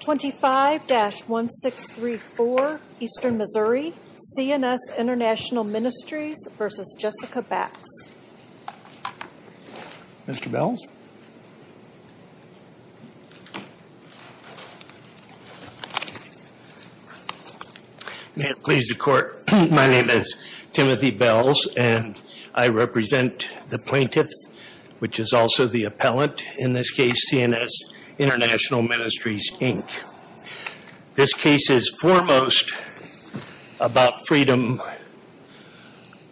25-1634 Eastern Missouri CNS International Ministries v. Jessica Bax Mr. Bells May it please the Court, my name is Timothy Bells and I represent the plaintiff, which is also the appellant, in this case CNS International Ministries, Inc. This case is foremost about freedom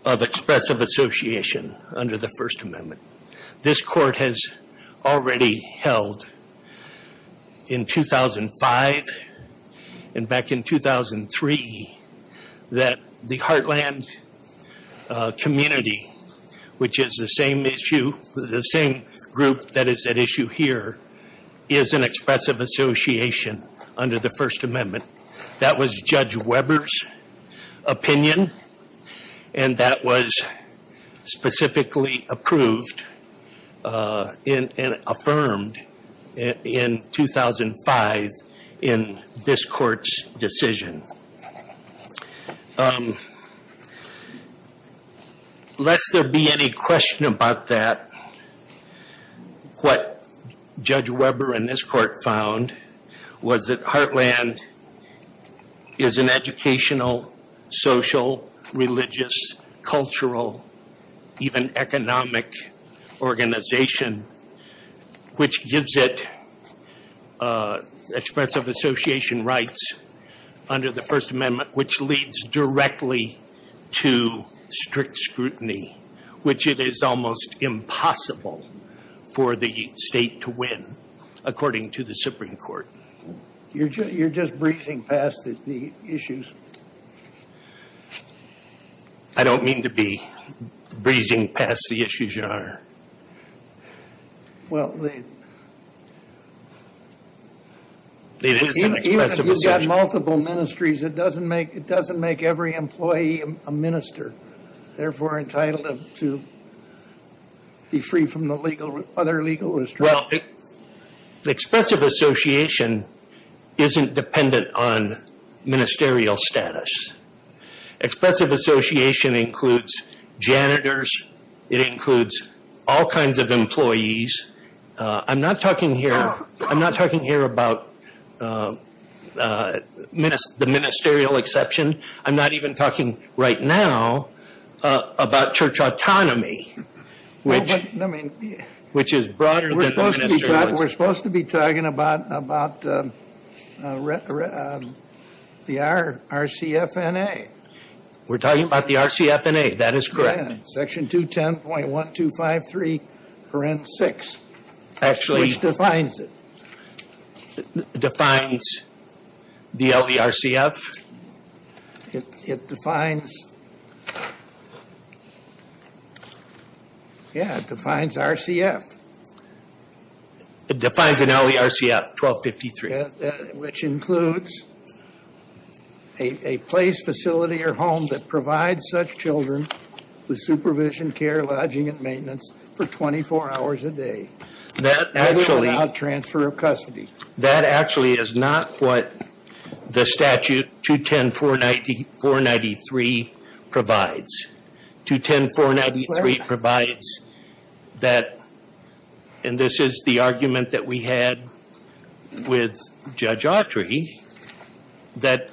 of expressive association under the First Amendment. This Court has already held in 2005 and back in 2003 that the Heartland community, which is the same group that is at issue here, is an expressive association under the First Amendment. That was Judge Weber's opinion and that was specifically approved and affirmed in 2005 in this Court's decision. Lest there be any question about that, what Judge Weber and this Court found was that Heartland is an educational, social, religious, cultural, even economic organization, which gives it expressive association rights under the First Amendment, which leads directly to strict scrutiny, which it is almost impossible for the State to win, according to the Supreme Court. You're just breezing past the issues? I don't mean to be breezing past the issues, Your Honor. Well, you've got multiple ministries. It doesn't make every employee a minister, therefore entitled to be free from the other legal restrictions. Well, expressive association isn't dependent on ministerial status. Expressive association includes janitors. It includes all kinds of employees. I'm not talking here about the ministerial exception. I'm not even talking right now about church autonomy, which is broader than the ministerial exception. We're supposed to be talking about the RCFNA. We're talking about the RCFNA. That is correct. Section 210.1253.6, which defines it. Defines the LERCF? It defines, yeah, it defines RCF. It defines an LERCF, 1253. Which includes a place, facility, or home that provides such children with supervision, care, lodging, and maintenance for 24 hours a day. Other than out transfer of custody. That actually is not what the statute 210.493 provides. 210.493 provides that, and this is the argument that we had with Judge Autry, that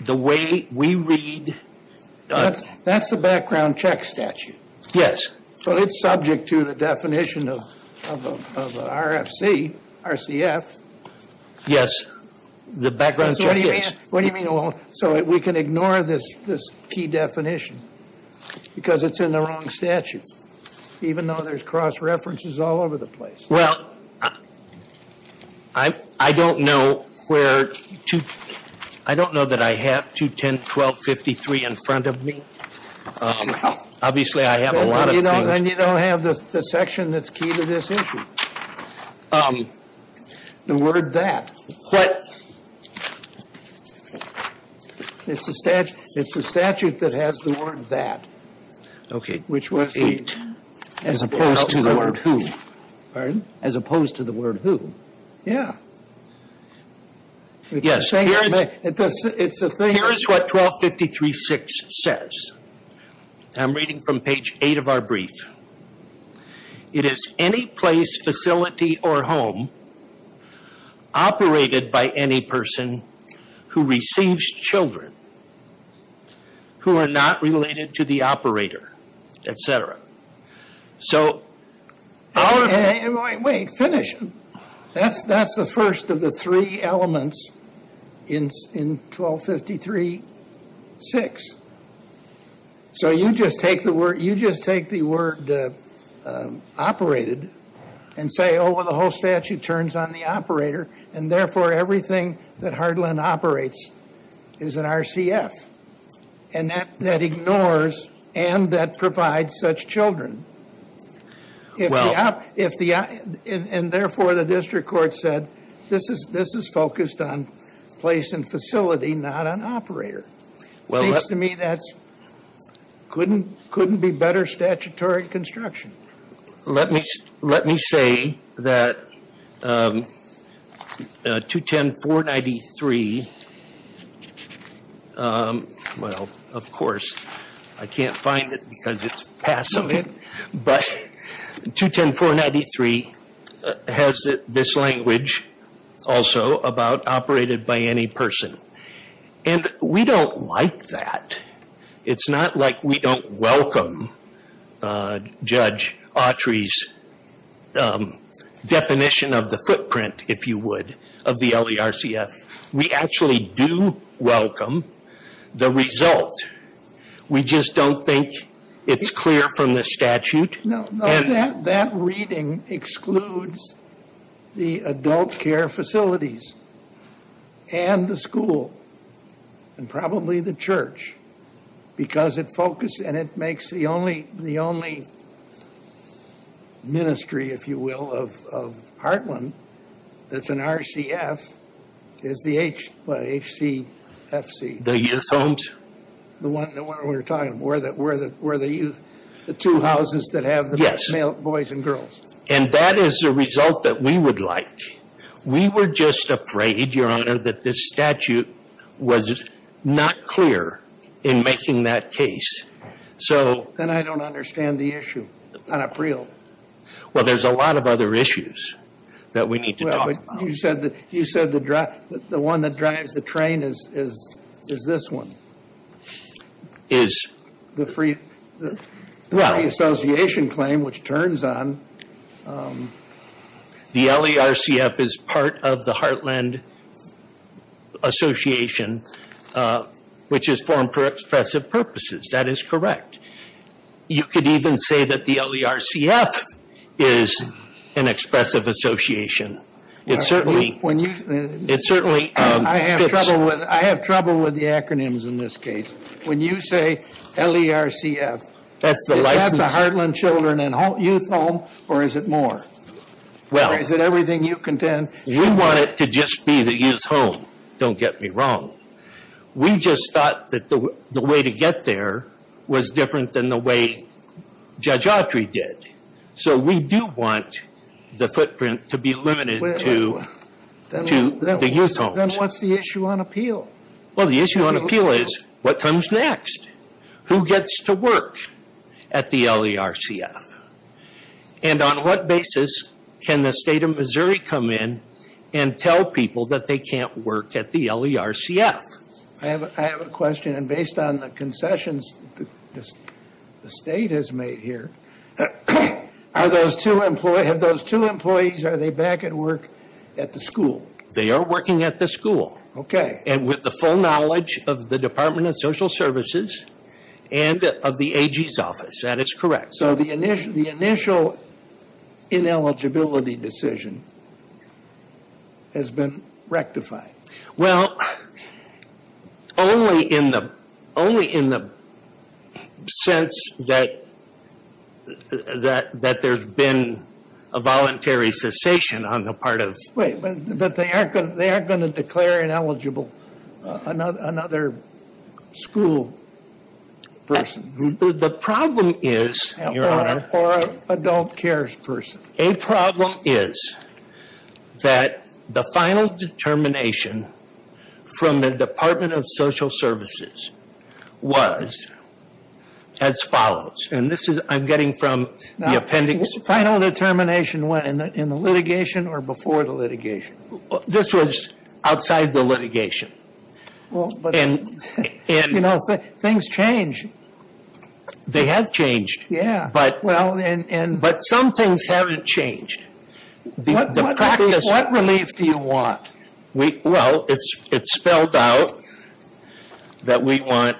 the way we read... That's the background check statute. Yes. But it's subject to the definition of RFC, RCF. The background check is. What do you mean? So we can ignore this key definition because it's in the wrong statute, even though there's cross-references all over the place. Well, I don't know where... I don't know that I have 210.1253 in front of me. Obviously, I have a lot of things. Then you don't have the section that's key to this issue. The word that. What? It's the statute that has the word that. Okay. Which was the... As opposed to the word who. Pardon? As opposed to the word who. Yeah. Yes. It's the thing... Here's what 1253.6 says. I'm reading from page 8 of our brief. It is any place, facility, or home operated by any person who receives children who are not related to the operator, etc. So our... Wait. Finish. That's the first of the three elements in 1253.6. So you just take the word operated and say, oh, well, the whole statute turns on the operator, and therefore everything that Hardland operates is an RCF. And that ignores and that provides such children. Well... And therefore, the district court said, this is focused on place and facility, not on operator. Seems to me that couldn't be better statutory construction. Let me say that 210-493... Well, of course. I can't find it because it's past something. But 210-493 has this language also about operated by any person. And we don't like that. It's not like we don't welcome Judge Autry's definition of the footprint, if you would, of the LERCF. We actually do welcome the result. We just don't think it's clear from the statute. No, no. That reading excludes the adult care facilities and the school and probably the church. Because it focused and it makes the only ministry, if you will, of Hardland that's an RCF is the HCFC. The youth homes? The one we were talking about. Where the youth... The two houses that have the boys and girls. And that is the result that we would like. We were just afraid, Your Honor, that this statute was not clear in making that case. So... Then I don't understand the issue. Well, there's a lot of other issues that we need to talk about. You said the one that drives the train is this one. Is... The free association claim, which turns on... The LERCF is part of the Heartland Association, which is formed for expressive purposes. That is correct. You could even say that the LERCF is an expressive association. It certainly fits... I have trouble with the acronyms in this case. When you say LERCF, is that the Heartland Children and Youth Home or is it more? Well... Or is it everything you contend? We want it to just be the youth home. Don't get me wrong. We just thought that the way to get there was different than the way Judge Autry did. So we do want the footprint to be limited to the youth homes. Then what's the issue on appeal? Well, the issue on appeal is what comes next? Who gets to work at the LERCF? And on what basis can the state of Missouri come in and tell people that they can't work at the LERCF? I have a question. Based on the concessions the state has made here, are those two employees back at work at the school? They are working at the school. Okay. And with the full knowledge of the Department of Social Services and of the AG's office. That is correct. So the initial ineligibility decision has been rectified. Well, only in the sense that there's been a voluntary cessation on the part of... But they aren't going to declare ineligible another school person. The problem is, Your Honor... Or an adult cares person. A problem is that the final determination from the Department of Social Services was as follows. I'm getting from the appendix... The final determination went in the litigation or before the litigation? This was outside the litigation. And... You know, things change. They have changed. Yeah. But some things haven't changed. What relief do you want? Well, it's spelled out that we want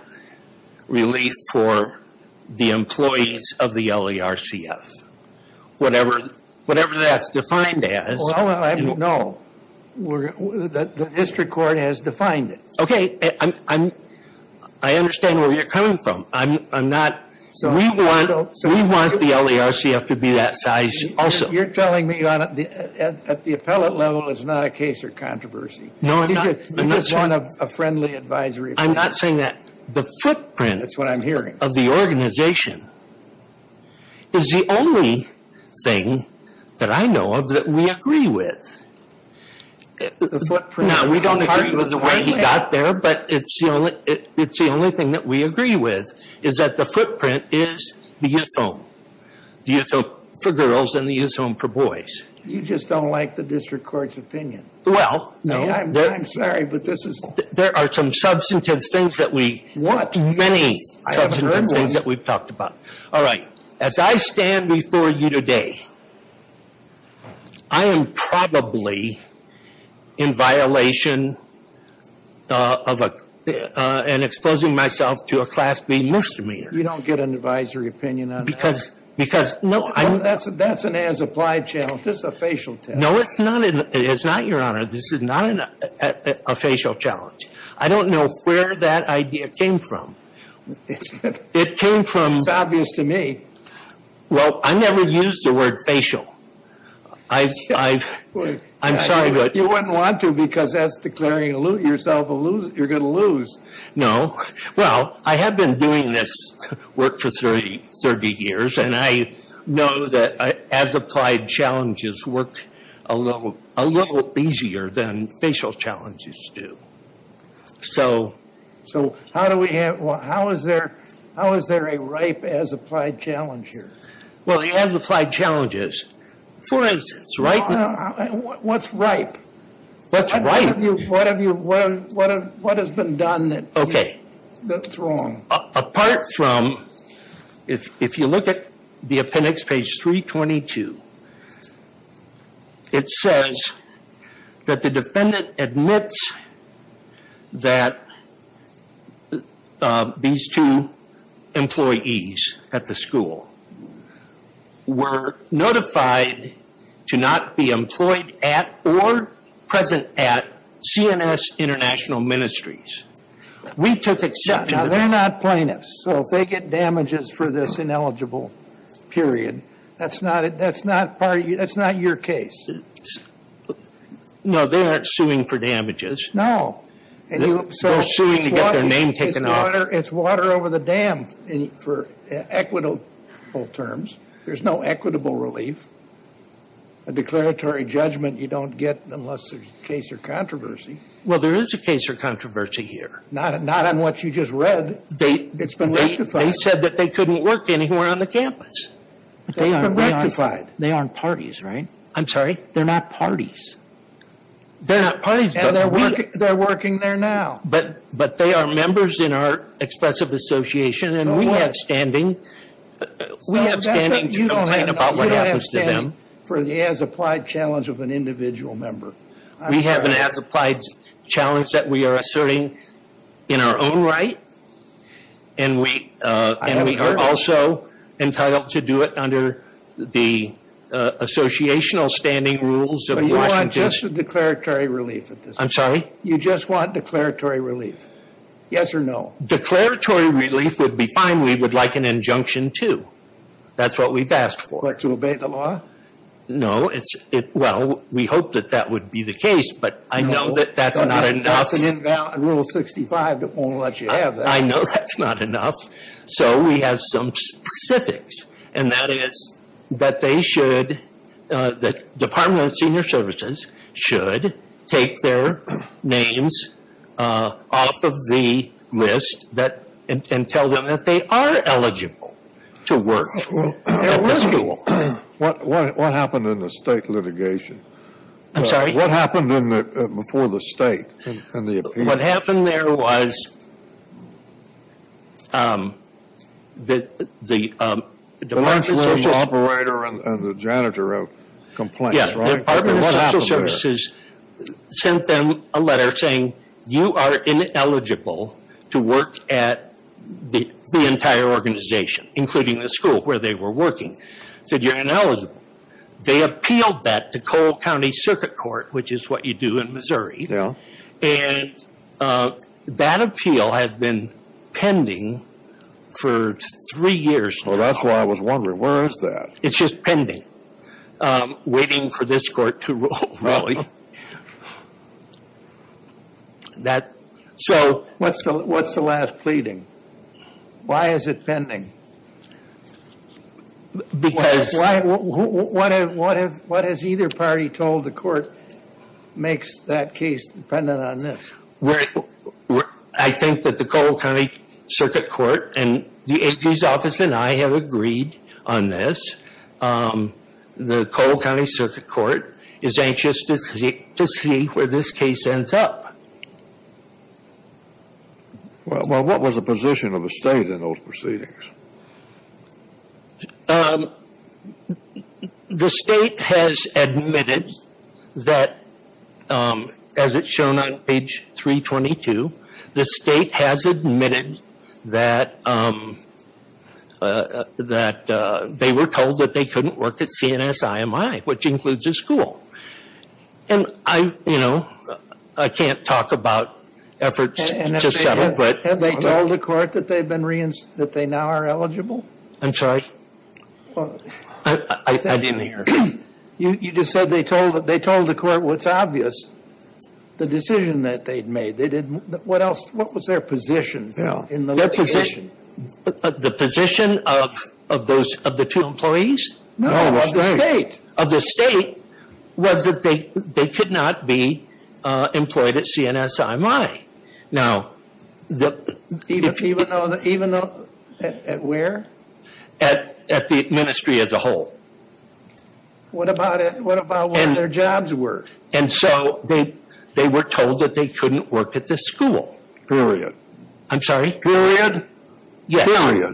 relief for the employees of the LERCF. Whatever that's defined as. No. The district court has defined it. Okay. I understand where you're coming from. I'm not... We want the LERCF to be that size also. You're telling me, Your Honor, at the appellate level, it's not a case of controversy. No, I'm not. You just want a friendly advisory. I'm not saying that. The footprint... That's what I'm hearing. ...of the organization is the only thing that I know of that we agree with. The footprint... It's not there, but it's the only thing that we agree with is that the footprint is the youth home. The youth home for girls and the youth home for boys. You just don't like the district court's opinion. Well, no. I'm sorry, but this is... There are some substantive things that we... What? Many substantive things that we've talked about. All right. As I stand before you today, I am probably in violation and exposing myself to a Class B misdemeanor. You don't get an advisory opinion on that? Because... That's an as-applied challenge. This is a facial test. No, it's not, Your Honor. This is not a facial challenge. I don't know where that idea came from. It came from... It's obvious to me. Well, I never used the word facial. I've... I'm sorry, but... You wouldn't want to because that's declaring yourself a loser. You're going to lose. No. Well, I have been doing this work for 30 years, and I know that as-applied challenges work a little easier than facial challenges do. So... So how do we have... How is there... How is there a ripe as-applied challenge here? Well, as-applied challenges... For instance, right... What's ripe? What's ripe? What have you... What has been done that... Okay. That's wrong. Apart from... If you look at the appendix, page 322, it says that the defendant admits that these two employees at the school were notified to not be employed at or present at CNS International Ministries. We took exception... Now, they're not plaintiffs. So if they get damages for this ineligible period, that's not part of... That's not your case. No, they aren't suing for damages. No. They're suing to get their name taken off. It's water over the dam for equitable terms. There's no equitable relief. A declaratory judgment you don't get unless there's a case or controversy. Well, there is a case or controversy here. Not on what you just read. They... It's been rectified. They said that they couldn't work anywhere on the campus. They've been rectified. They aren't parties, right? I'm sorry. They're not parties. They're not parties, but we... And they're working there now. But they are members in our expressive association. So what? And we have standing. We have standing to complain about what happens to them. You don't have standing for the as-applied challenge of an individual member. We have an as-applied challenge that we are asserting in our own right. And we are also entitled to do it under the associational standing rules of Washington. So you want just a declaratory relief at this point? I'm sorry? You just want declaratory relief? Yes or no? Declaratory relief would be fine. We would like an injunction, too. That's what we've asked for. To obey the law? No. Well, we hope that that would be the case. But I know that that's not enough. That's an invalid Rule 65 that won't let you have that. I know that's not enough. So we have some specifics. And that is that they should... The Department of Senior Services should take their names off of the list and tell them that they are eligible to work at the school. What happened in the state litigation? I'm sorry? What happened before the state and the appeal? What happened there was that the Department of Social Services... The operating operator and the janitor have complaints, right? Yes. The Department of Social Services sent them a letter saying you are ineligible to work at the entire organization, including the school where they were working. They said you're ineligible. They appealed that to Cole County Circuit Court, which is what you do in Missouri. And that appeal has been pending for three years now. Well, that's why I was wondering, where is that? It's just pending, waiting for this court to rule, really. So what's the last pleading? Why is it pending? Because... What has either party told the court makes that case dependent on this? I think that the Cole County Circuit Court and the AG's office and I have agreed on this. The Cole County Circuit Court is anxious to see where this case ends up. Well, what was the position of the state in those proceedings? The state has admitted that, as it's shown on page 322, the state has admitted that they were told that they couldn't work at CNS-IMI, which includes the school. And I, you know, I can't talk about efforts to settle, but... Have they told the court that they now are eligible? I'm sorry? I didn't hear. You just said they told the court what's obvious, the decision that they'd made. They didn't, what else, what was their position in the litigation? The position of the two employees? No, of the state. Was that they could not be employed at CNS-IMI. Now, the... Even though, at where? At the ministry as a whole. What about what their jobs were? And so they were told that they couldn't work at the school. Period. I'm sorry? Yes.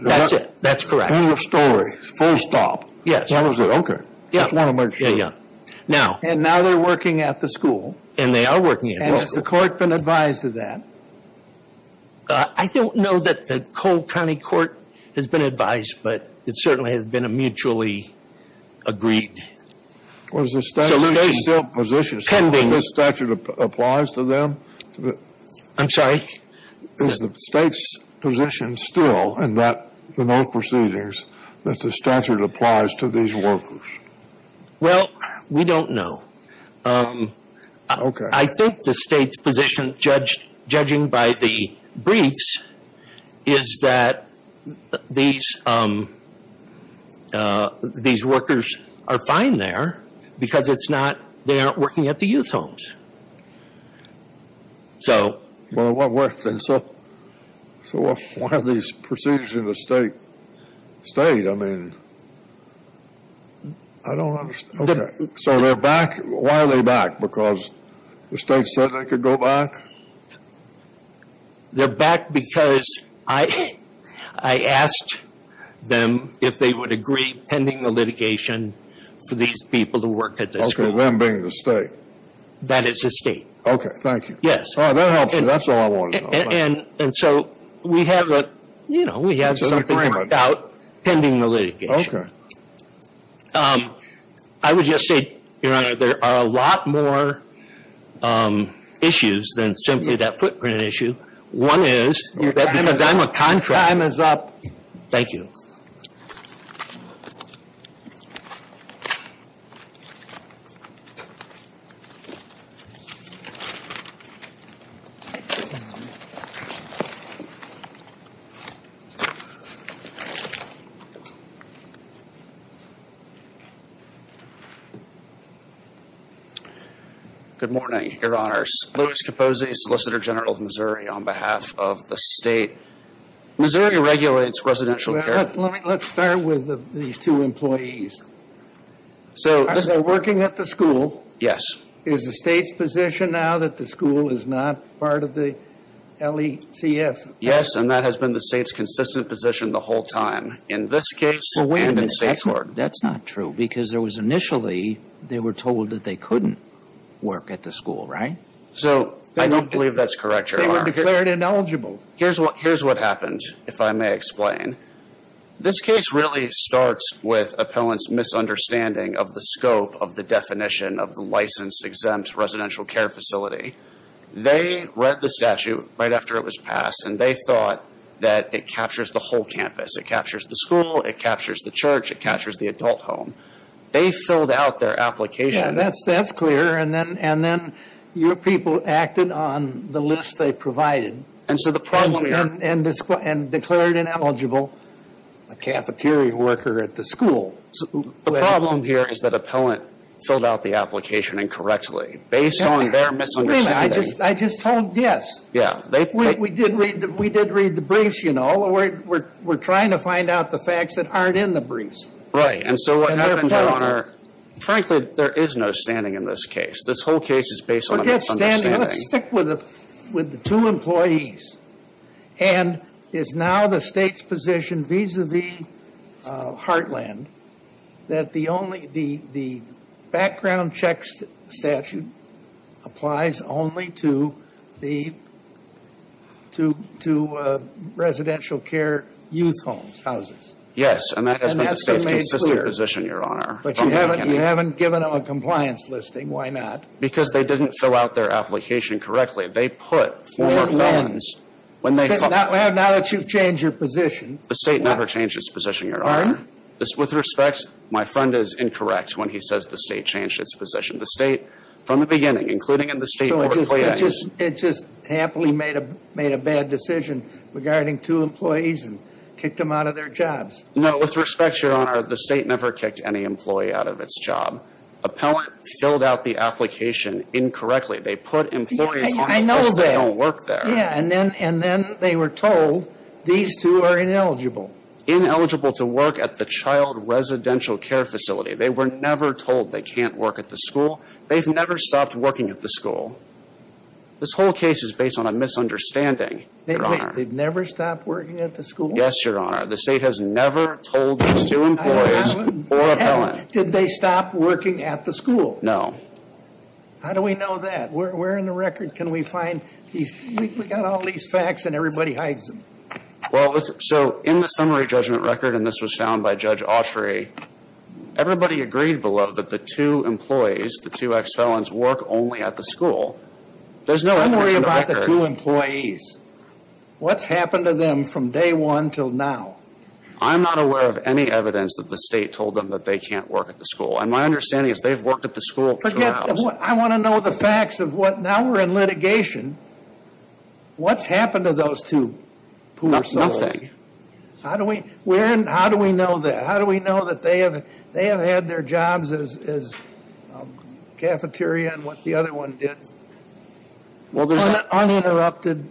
That's it, that's correct. End of story, full stop. Yes. That was it, okay. Just want to make sure. Yeah, yeah. Now... And now they're working at the school. And they are working at the school. And has the court been advised of that? I don't know that the Cole County Court has been advised, but it certainly has been a mutually agreed solution. Was the state still positioned... Pending. ...that this statute applies to them? I'm sorry? Is the state's position still in that, in those proceedings, that the statute applies to these workers? Well, we don't know. Okay. I think the state's position, judging by the briefs, is that these workers are fine there because they aren't working at the youth homes. So... Well, what were... So why are these proceedings in the state? State? I mean, I don't understand. Okay. So they're back? Why are they back? Because the state said they could go back? They're back because I asked them if they would agree, pending the litigation, for these people to work at the school. Okay, them being the state. That it's the state. Okay, thank you. Yes. Oh, that helps me. That's all I wanted to know. And so we have a, you know, we have something worked out pending the litigation. I would just say, Your Honor, there are a lot more issues than simply that footprint issue. One is... Your time is up. ...because I'm a contractor. Your time is up. Thank you. Good morning, Your Honors. Louis Capozzi, Solicitor General of Missouri, on behalf of the state. Missouri regulates residential care. Let's start with these two employees. So... Are they working at the school? Yes. Is the state's position now that the school is not part of the LECF? Yes, and that has been the state's consistent position the whole time, in this case and in state court. Well, wait a minute. That's not true. Because there was initially, they were told that they couldn't work at the school, right? So, I don't believe that's correct, Your Honor. They were declared ineligible. Here's what happened, if I may explain. This case really starts with appellants' misunderstanding of the scope of the definition of the licensed exempt residential care facility. They read the statute right after it was passed, and they thought that it captures the whole campus. It captures the school. It captures the church. It captures the adult home. They filled out their application. Yeah, that's clear. And then your people acted on the list they provided. And so the problem here... And declared ineligible a cafeteria worker at the school. The problem here is that appellant filled out the application incorrectly, based on their misunderstanding. I just told, yes. Yeah. We did read the briefs, you know. We're trying to find out the facts that aren't in the briefs. Right. And so what happened, Your Honor, frankly, there is no standing in this case. This whole case is based on a misunderstanding. Then let's stick with the two employees. And is now the State's position, vis-à-vis Heartland, that the background check statute applies only to residential care youth homes, houses? Yes, and that has been the State's consistent position, Your Honor. But you haven't given them a compliance listing. Why not? Because they didn't fill out their application correctly. They put four felons... Now that you've changed your position... The State never changed its position, Your Honor. With respect, my friend is incorrect when he says the State changed its position. The State, from the beginning, including in the State... So it just happily made a bad decision regarding two employees and kicked them out of their jobs. No, with respect, Your Honor, the State never kicked any employee out of its job. Appellant filled out the application incorrectly. They put employees on it because they don't work there. Yeah, and then they were told these two are ineligible. Ineligible to work at the child residential care facility. They were never told they can't work at the school. They've never stopped working at the school. This whole case is based on a misunderstanding, Your Honor. They've never stopped working at the school? Yes, Your Honor. The State has never told these two employees or appellant... No. How do we know that? Where in the record can we find these... We've got all these facts and everybody hides them. Well, so in the summary judgment record, and this was found by Judge Autry, everybody agreed below that the two employees, the two ex-felons, work only at the school. There's no evidence in the record... Don't worry about the two employees. What's happened to them from day one till now? I'm not aware of any evidence that the State told them that they can't work at the school. And my understanding is they've worked at the school throughout. But yet, I want to know the facts of what... Now we're in litigation. What's happened to those two poor souls? How do we know that? How do we know that they have had their jobs as cafeteria and what the other one did uninterrupted?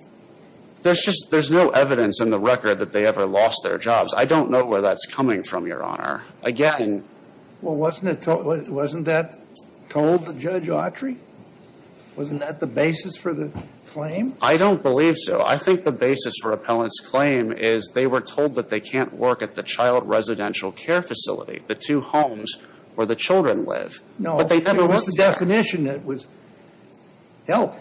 There's no evidence in the record that they ever lost their jobs. I don't know where that's coming from, Your Honor. Again... Well, wasn't that told to Judge Autry? Wasn't that the basis for the claim? I don't believe so. I think the basis for Appellant's claim is they were told that they can't work at the child residential care facility, the two homes where the children live. No. But they never worked there. It was the definition that was helped.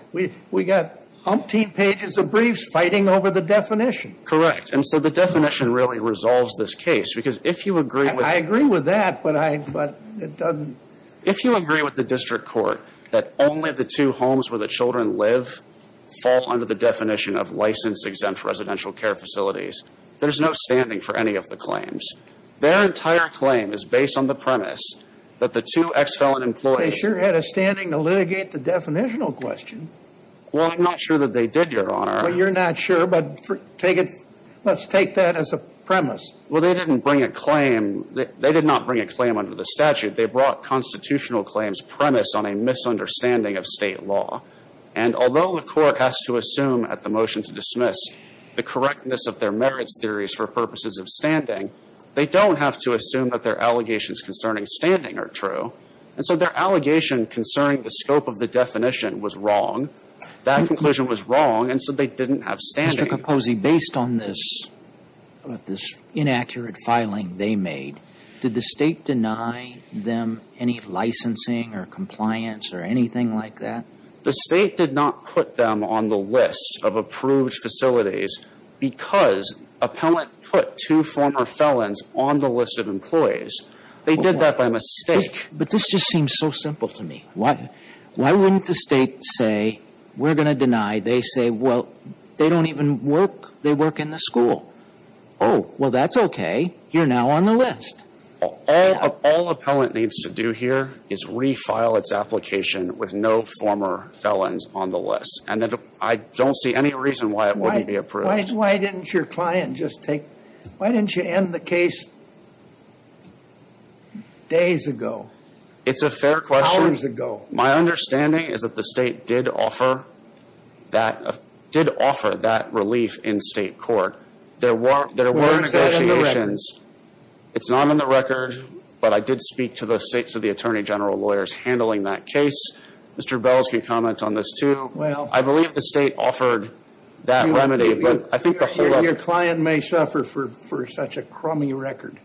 We got umpteen pages of briefs fighting over the definition. Correct. And so the definition really resolves this case because if you agree with... I agree with that, but it doesn't... If you agree with the district court that only the two homes where the children live fall under the definition of license-exempt residential care facilities, there's no standing for any of the claims. Their entire claim is based on the premise that the two ex-felon employees... They sure had a standing to litigate the definitional question. Well, I'm not sure that they did, Your Honor. Well, you're not sure, but let's take that as a premise. Well, they didn't bring a claim. They did not bring a claim under the statute. They brought constitutional claims premised on a misunderstanding of state law. And although the court has to assume at the motion to dismiss the correctness of their merits theories for purposes of standing, they don't have to assume that their allegations concerning standing are true. And so their allegation concerning the scope of the definition was wrong. That conclusion was wrong, and so they didn't have standing. Mr. Capozzi, based on this inaccurate filing they made, did the state deny them any licensing or compliance or anything like that? The state did not put them on the list of approved facilities because appellant put two former felons on the list of employees. They did that by mistake. But this just seems so simple to me. Why wouldn't the state say, we're going to deny? They say, well, they don't even work. They work in the school. Oh. Well, that's okay. You're now on the list. All appellant needs to do here is refile its application with no former felons on the list. And I don't see any reason why it wouldn't be approved. Why didn't your client just take why didn't you end the case days ago? It's a fair question. Hours ago. My understanding is that the state did offer that relief in state court. There were negotiations. Well, is that in the record? It's not in the record, but I did speak to the Attorney General lawyers handling that case. Mr. Bells can comment on this, too. Well. I believe the state offered that remedy. Your client may suffer for such a crummy record.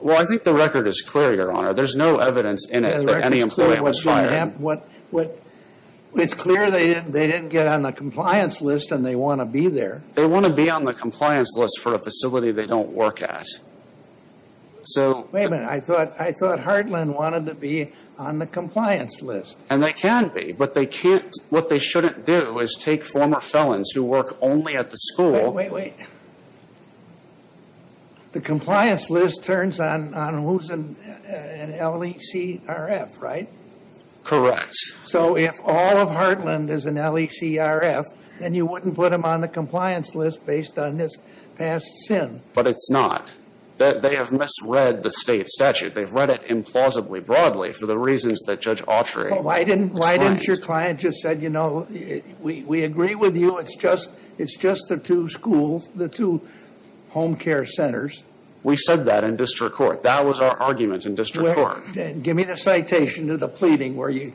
Well, I think the record is clear, Your Honor. There's no evidence in it that any employee was fired. It's clear they didn't get on the compliance list and they want to be there. They want to be on the compliance list for a facility they don't work at. Wait a minute. I thought Hardland wanted to be on the compliance list. And they can be, but what they shouldn't do is take former felons who work only at the school. Wait, wait, wait. The compliance list turns on who's an LECRF, right? Correct. So if all of Hardland is an LECRF, then you wouldn't put him on the compliance list based on his past sin. But it's not. They have misread the state statute. They've read it implausibly broadly for the reasons that Judge Autry explained. Then why didn't your client just say, you know, we agree with you. It's just the two schools, the two home care centers. We said that in district court. That was our argument in district court. Give me the citation to the pleading where you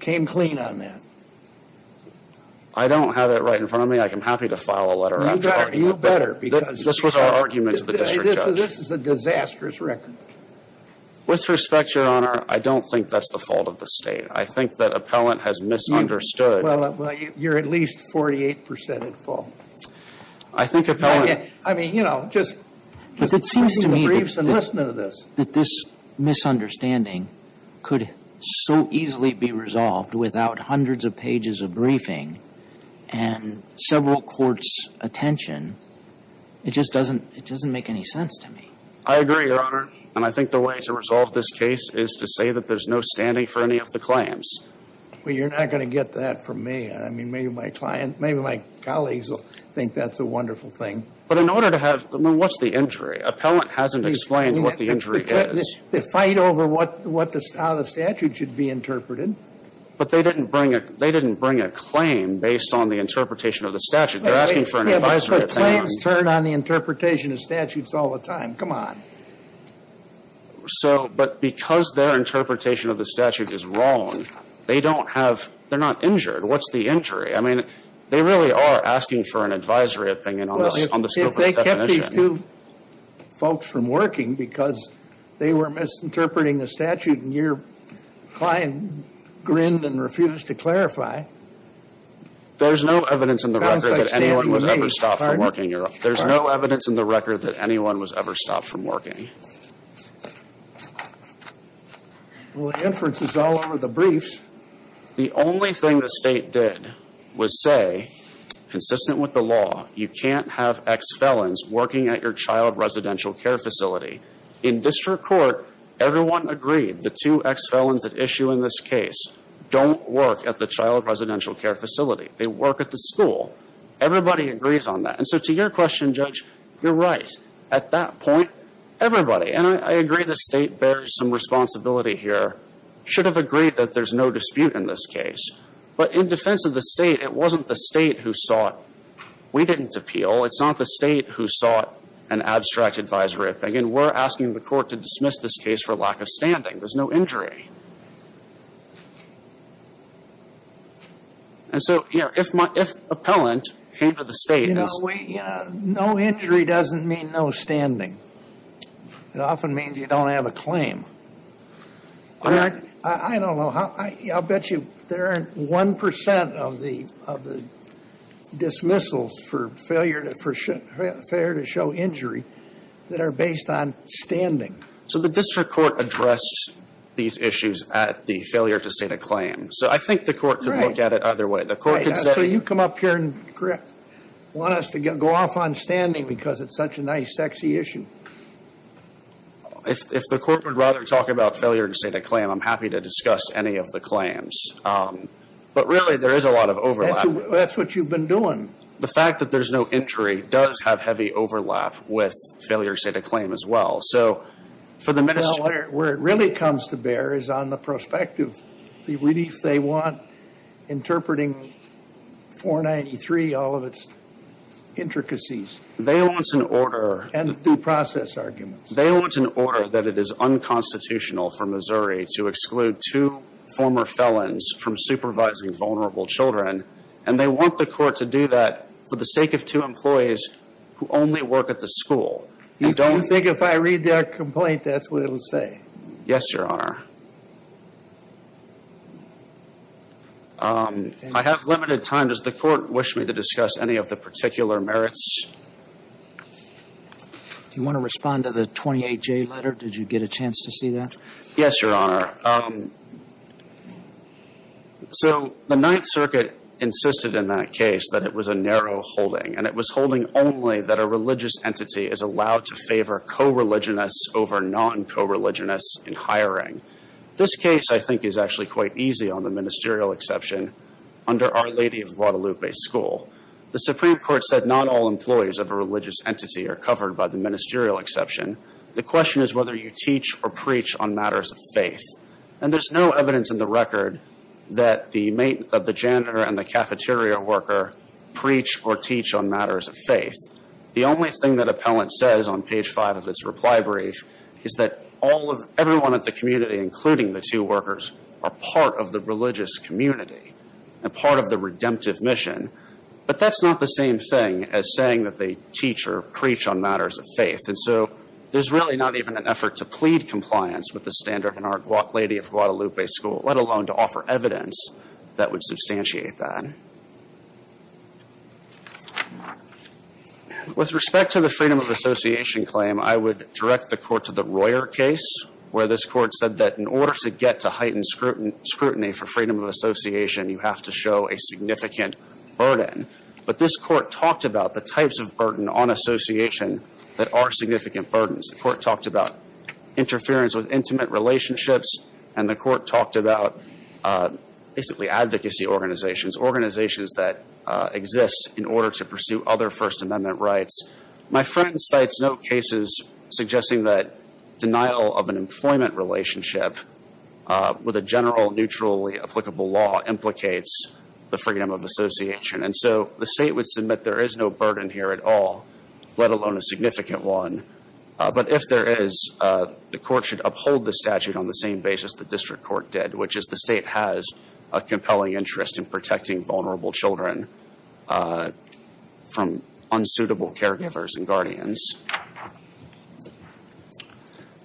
came clean on that. I don't have it right in front of me. I'm happy to file a letter. You better. This was our argument to the district judge. This is a disastrous record. With respect, Your Honor, I don't think that's the fault of the state. I think that appellant has misunderstood. Well, you're at least 48 percent at fault. I think appellant. I mean, you know, just. But it seems to me that this misunderstanding could so easily be resolved without hundreds of pages of briefing and several courts' attention. It just doesn't make any sense to me. I agree, Your Honor. And I think the way to resolve this case is to say that there's no standing for any of the claims. Well, you're not going to get that from me. I mean, maybe my client, maybe my colleagues will think that's a wonderful thing. But in order to have, I mean, what's the injury? Appellant hasn't explained what the injury is. They fight over how the statute should be interpreted. But they didn't bring a claim based on the interpretation of the statute. They're asking for an advisory opinion. Claims turn on the interpretation of statutes all the time. Come on. So, but because their interpretation of the statute is wrong, they don't have. They're not injured. What's the injury? I mean, they really are asking for an advisory opinion on the scope of the definition. Well, if they kept these two folks from working because they were misinterpreting the statute and your client grinned and refused to clarify. There's no evidence in the record that anyone was ever stopped from working. There's no evidence in the record that anyone was ever stopped from working. Well, the inference is all over the briefs. The only thing the state did was say, consistent with the law, you can't have ex-felons working at your child residential care facility. In district court, everyone agreed the two ex-felons at issue in this case don't work at the child residential care facility. They work at the school. Everybody agrees on that. And so to your question, Judge, you're right. At that point, everybody, and I agree the state bears some responsibility here, should have agreed that there's no dispute in this case. But in defense of the state, it wasn't the state who sought. We didn't appeal. It's not the state who sought an abstract advisory opinion. We're asking the court to dismiss this case for lack of standing. There's no injury. And so, you know, if appellant came to the state and said- You know, no injury doesn't mean no standing. It often means you don't have a claim. I don't know. I'll bet you there aren't 1% of the dismissals for failure to show injury that are based on standing. So the district court addressed these issues at the failure to state a claim. So I think the court could look at it either way. The court could say- So you come up here and want us to go off on standing because it's such a nice, sexy issue. If the court would rather talk about failure to state a claim, I'm happy to discuss any of the claims. But really, there is a lot of overlap. That's what you've been doing. The fact that there's no injury does have heavy overlap with failure to state a claim as well. So for the minister- Well, where it really comes to bear is on the prospective. The relief they want, interpreting 493, all of its intricacies. They want an order- And due process arguments. They want an order that it is unconstitutional for Missouri to exclude two former felons from supervising vulnerable children. And they want the court to do that for the sake of two employees who only work at the school. You don't think if I read their complaint, that's what it will say? Yes, Your Honor. I have limited time. Does the court wish me to discuss any of the particular merits? Do you want to respond to the 28J letter? Did you get a chance to see that? Yes, Your Honor. So the Ninth Circuit insisted in that case that it was a narrow holding. And it was holding only that a religious entity is allowed to favor co-religionists over non-co-religionists in hiring. This case, I think, is actually quite easy on the ministerial exception under Our Lady of Guadalupe School. The Supreme Court said not all employees of a religious entity are covered by the ministerial exception. The question is whether you teach or preach on matters of faith. And there's no evidence in the record that the janitor and the cafeteria worker preach or teach on matters of faith. The only thing that appellant says on page 5 of its reply brief is that everyone at the community, including the two workers, are part of the religious community and part of the redemptive mission. But that's not the same thing as saying that they teach or preach on matters of faith. And so there's really not even an effort to plead compliance with the standard in Our Lady of Guadalupe School, let alone to offer evidence that would substantiate that. With respect to the freedom of association claim, I would direct the Court to the Royer case, where this Court said that in order to get to heightened scrutiny for freedom of association, you have to show a significant burden. But this Court talked about the types of burden on association that are significant burdens. The Court talked about interference with intimate relationships, and the Court talked about basically advocacy organizations, organizations that exist in order to pursue other First Amendment rights. My friend cites note cases suggesting that denial of an employment relationship with a general, neutrally applicable law implicates the freedom of association. And so the State would submit there is no burden here at all, let alone a significant one. But if there is, the Court should uphold the statute on the same basis the District Court did, which is the State has a compelling interest in protecting vulnerable children from unsuitable caregivers and guardians.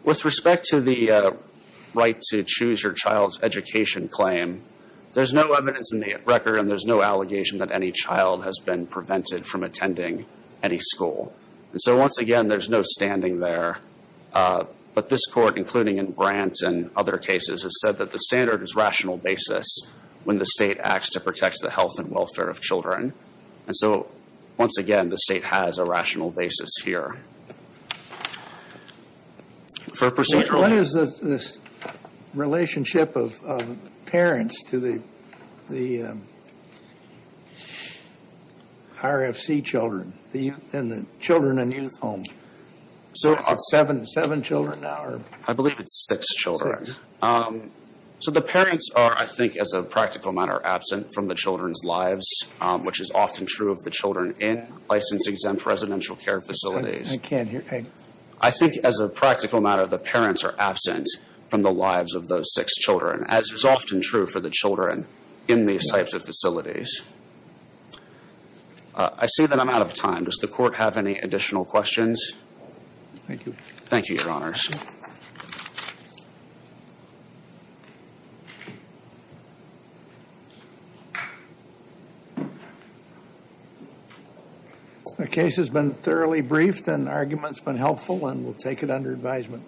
With respect to the right to choose your child's education claim, there's no evidence in the record and there's no allegation that any child has been prevented from attending any school. And so once again, there's no standing there. But this Court, including in Grant and other cases, has said that the standard is rational basis when the State acts to protect the health and welfare of children. And so once again, the State has a rational basis here. What is the relationship of parents to the RFC children and the children in youth homes? Is it seven children now? I believe it's six children. So the parents are, I think, as a practical matter, absent from the children's lives, which is often true of the children in license-exempt residential care facilities. I can't hear. I think as a practical matter, the parents are absent from the lives of those six children, as is often true for the children in these types of facilities. I see that I'm out of time. Does the Court have any additional questions? Thank you. Thank you, Your Honors. The case has been thoroughly briefed and the argument has been helpful, and we'll take it under advisement.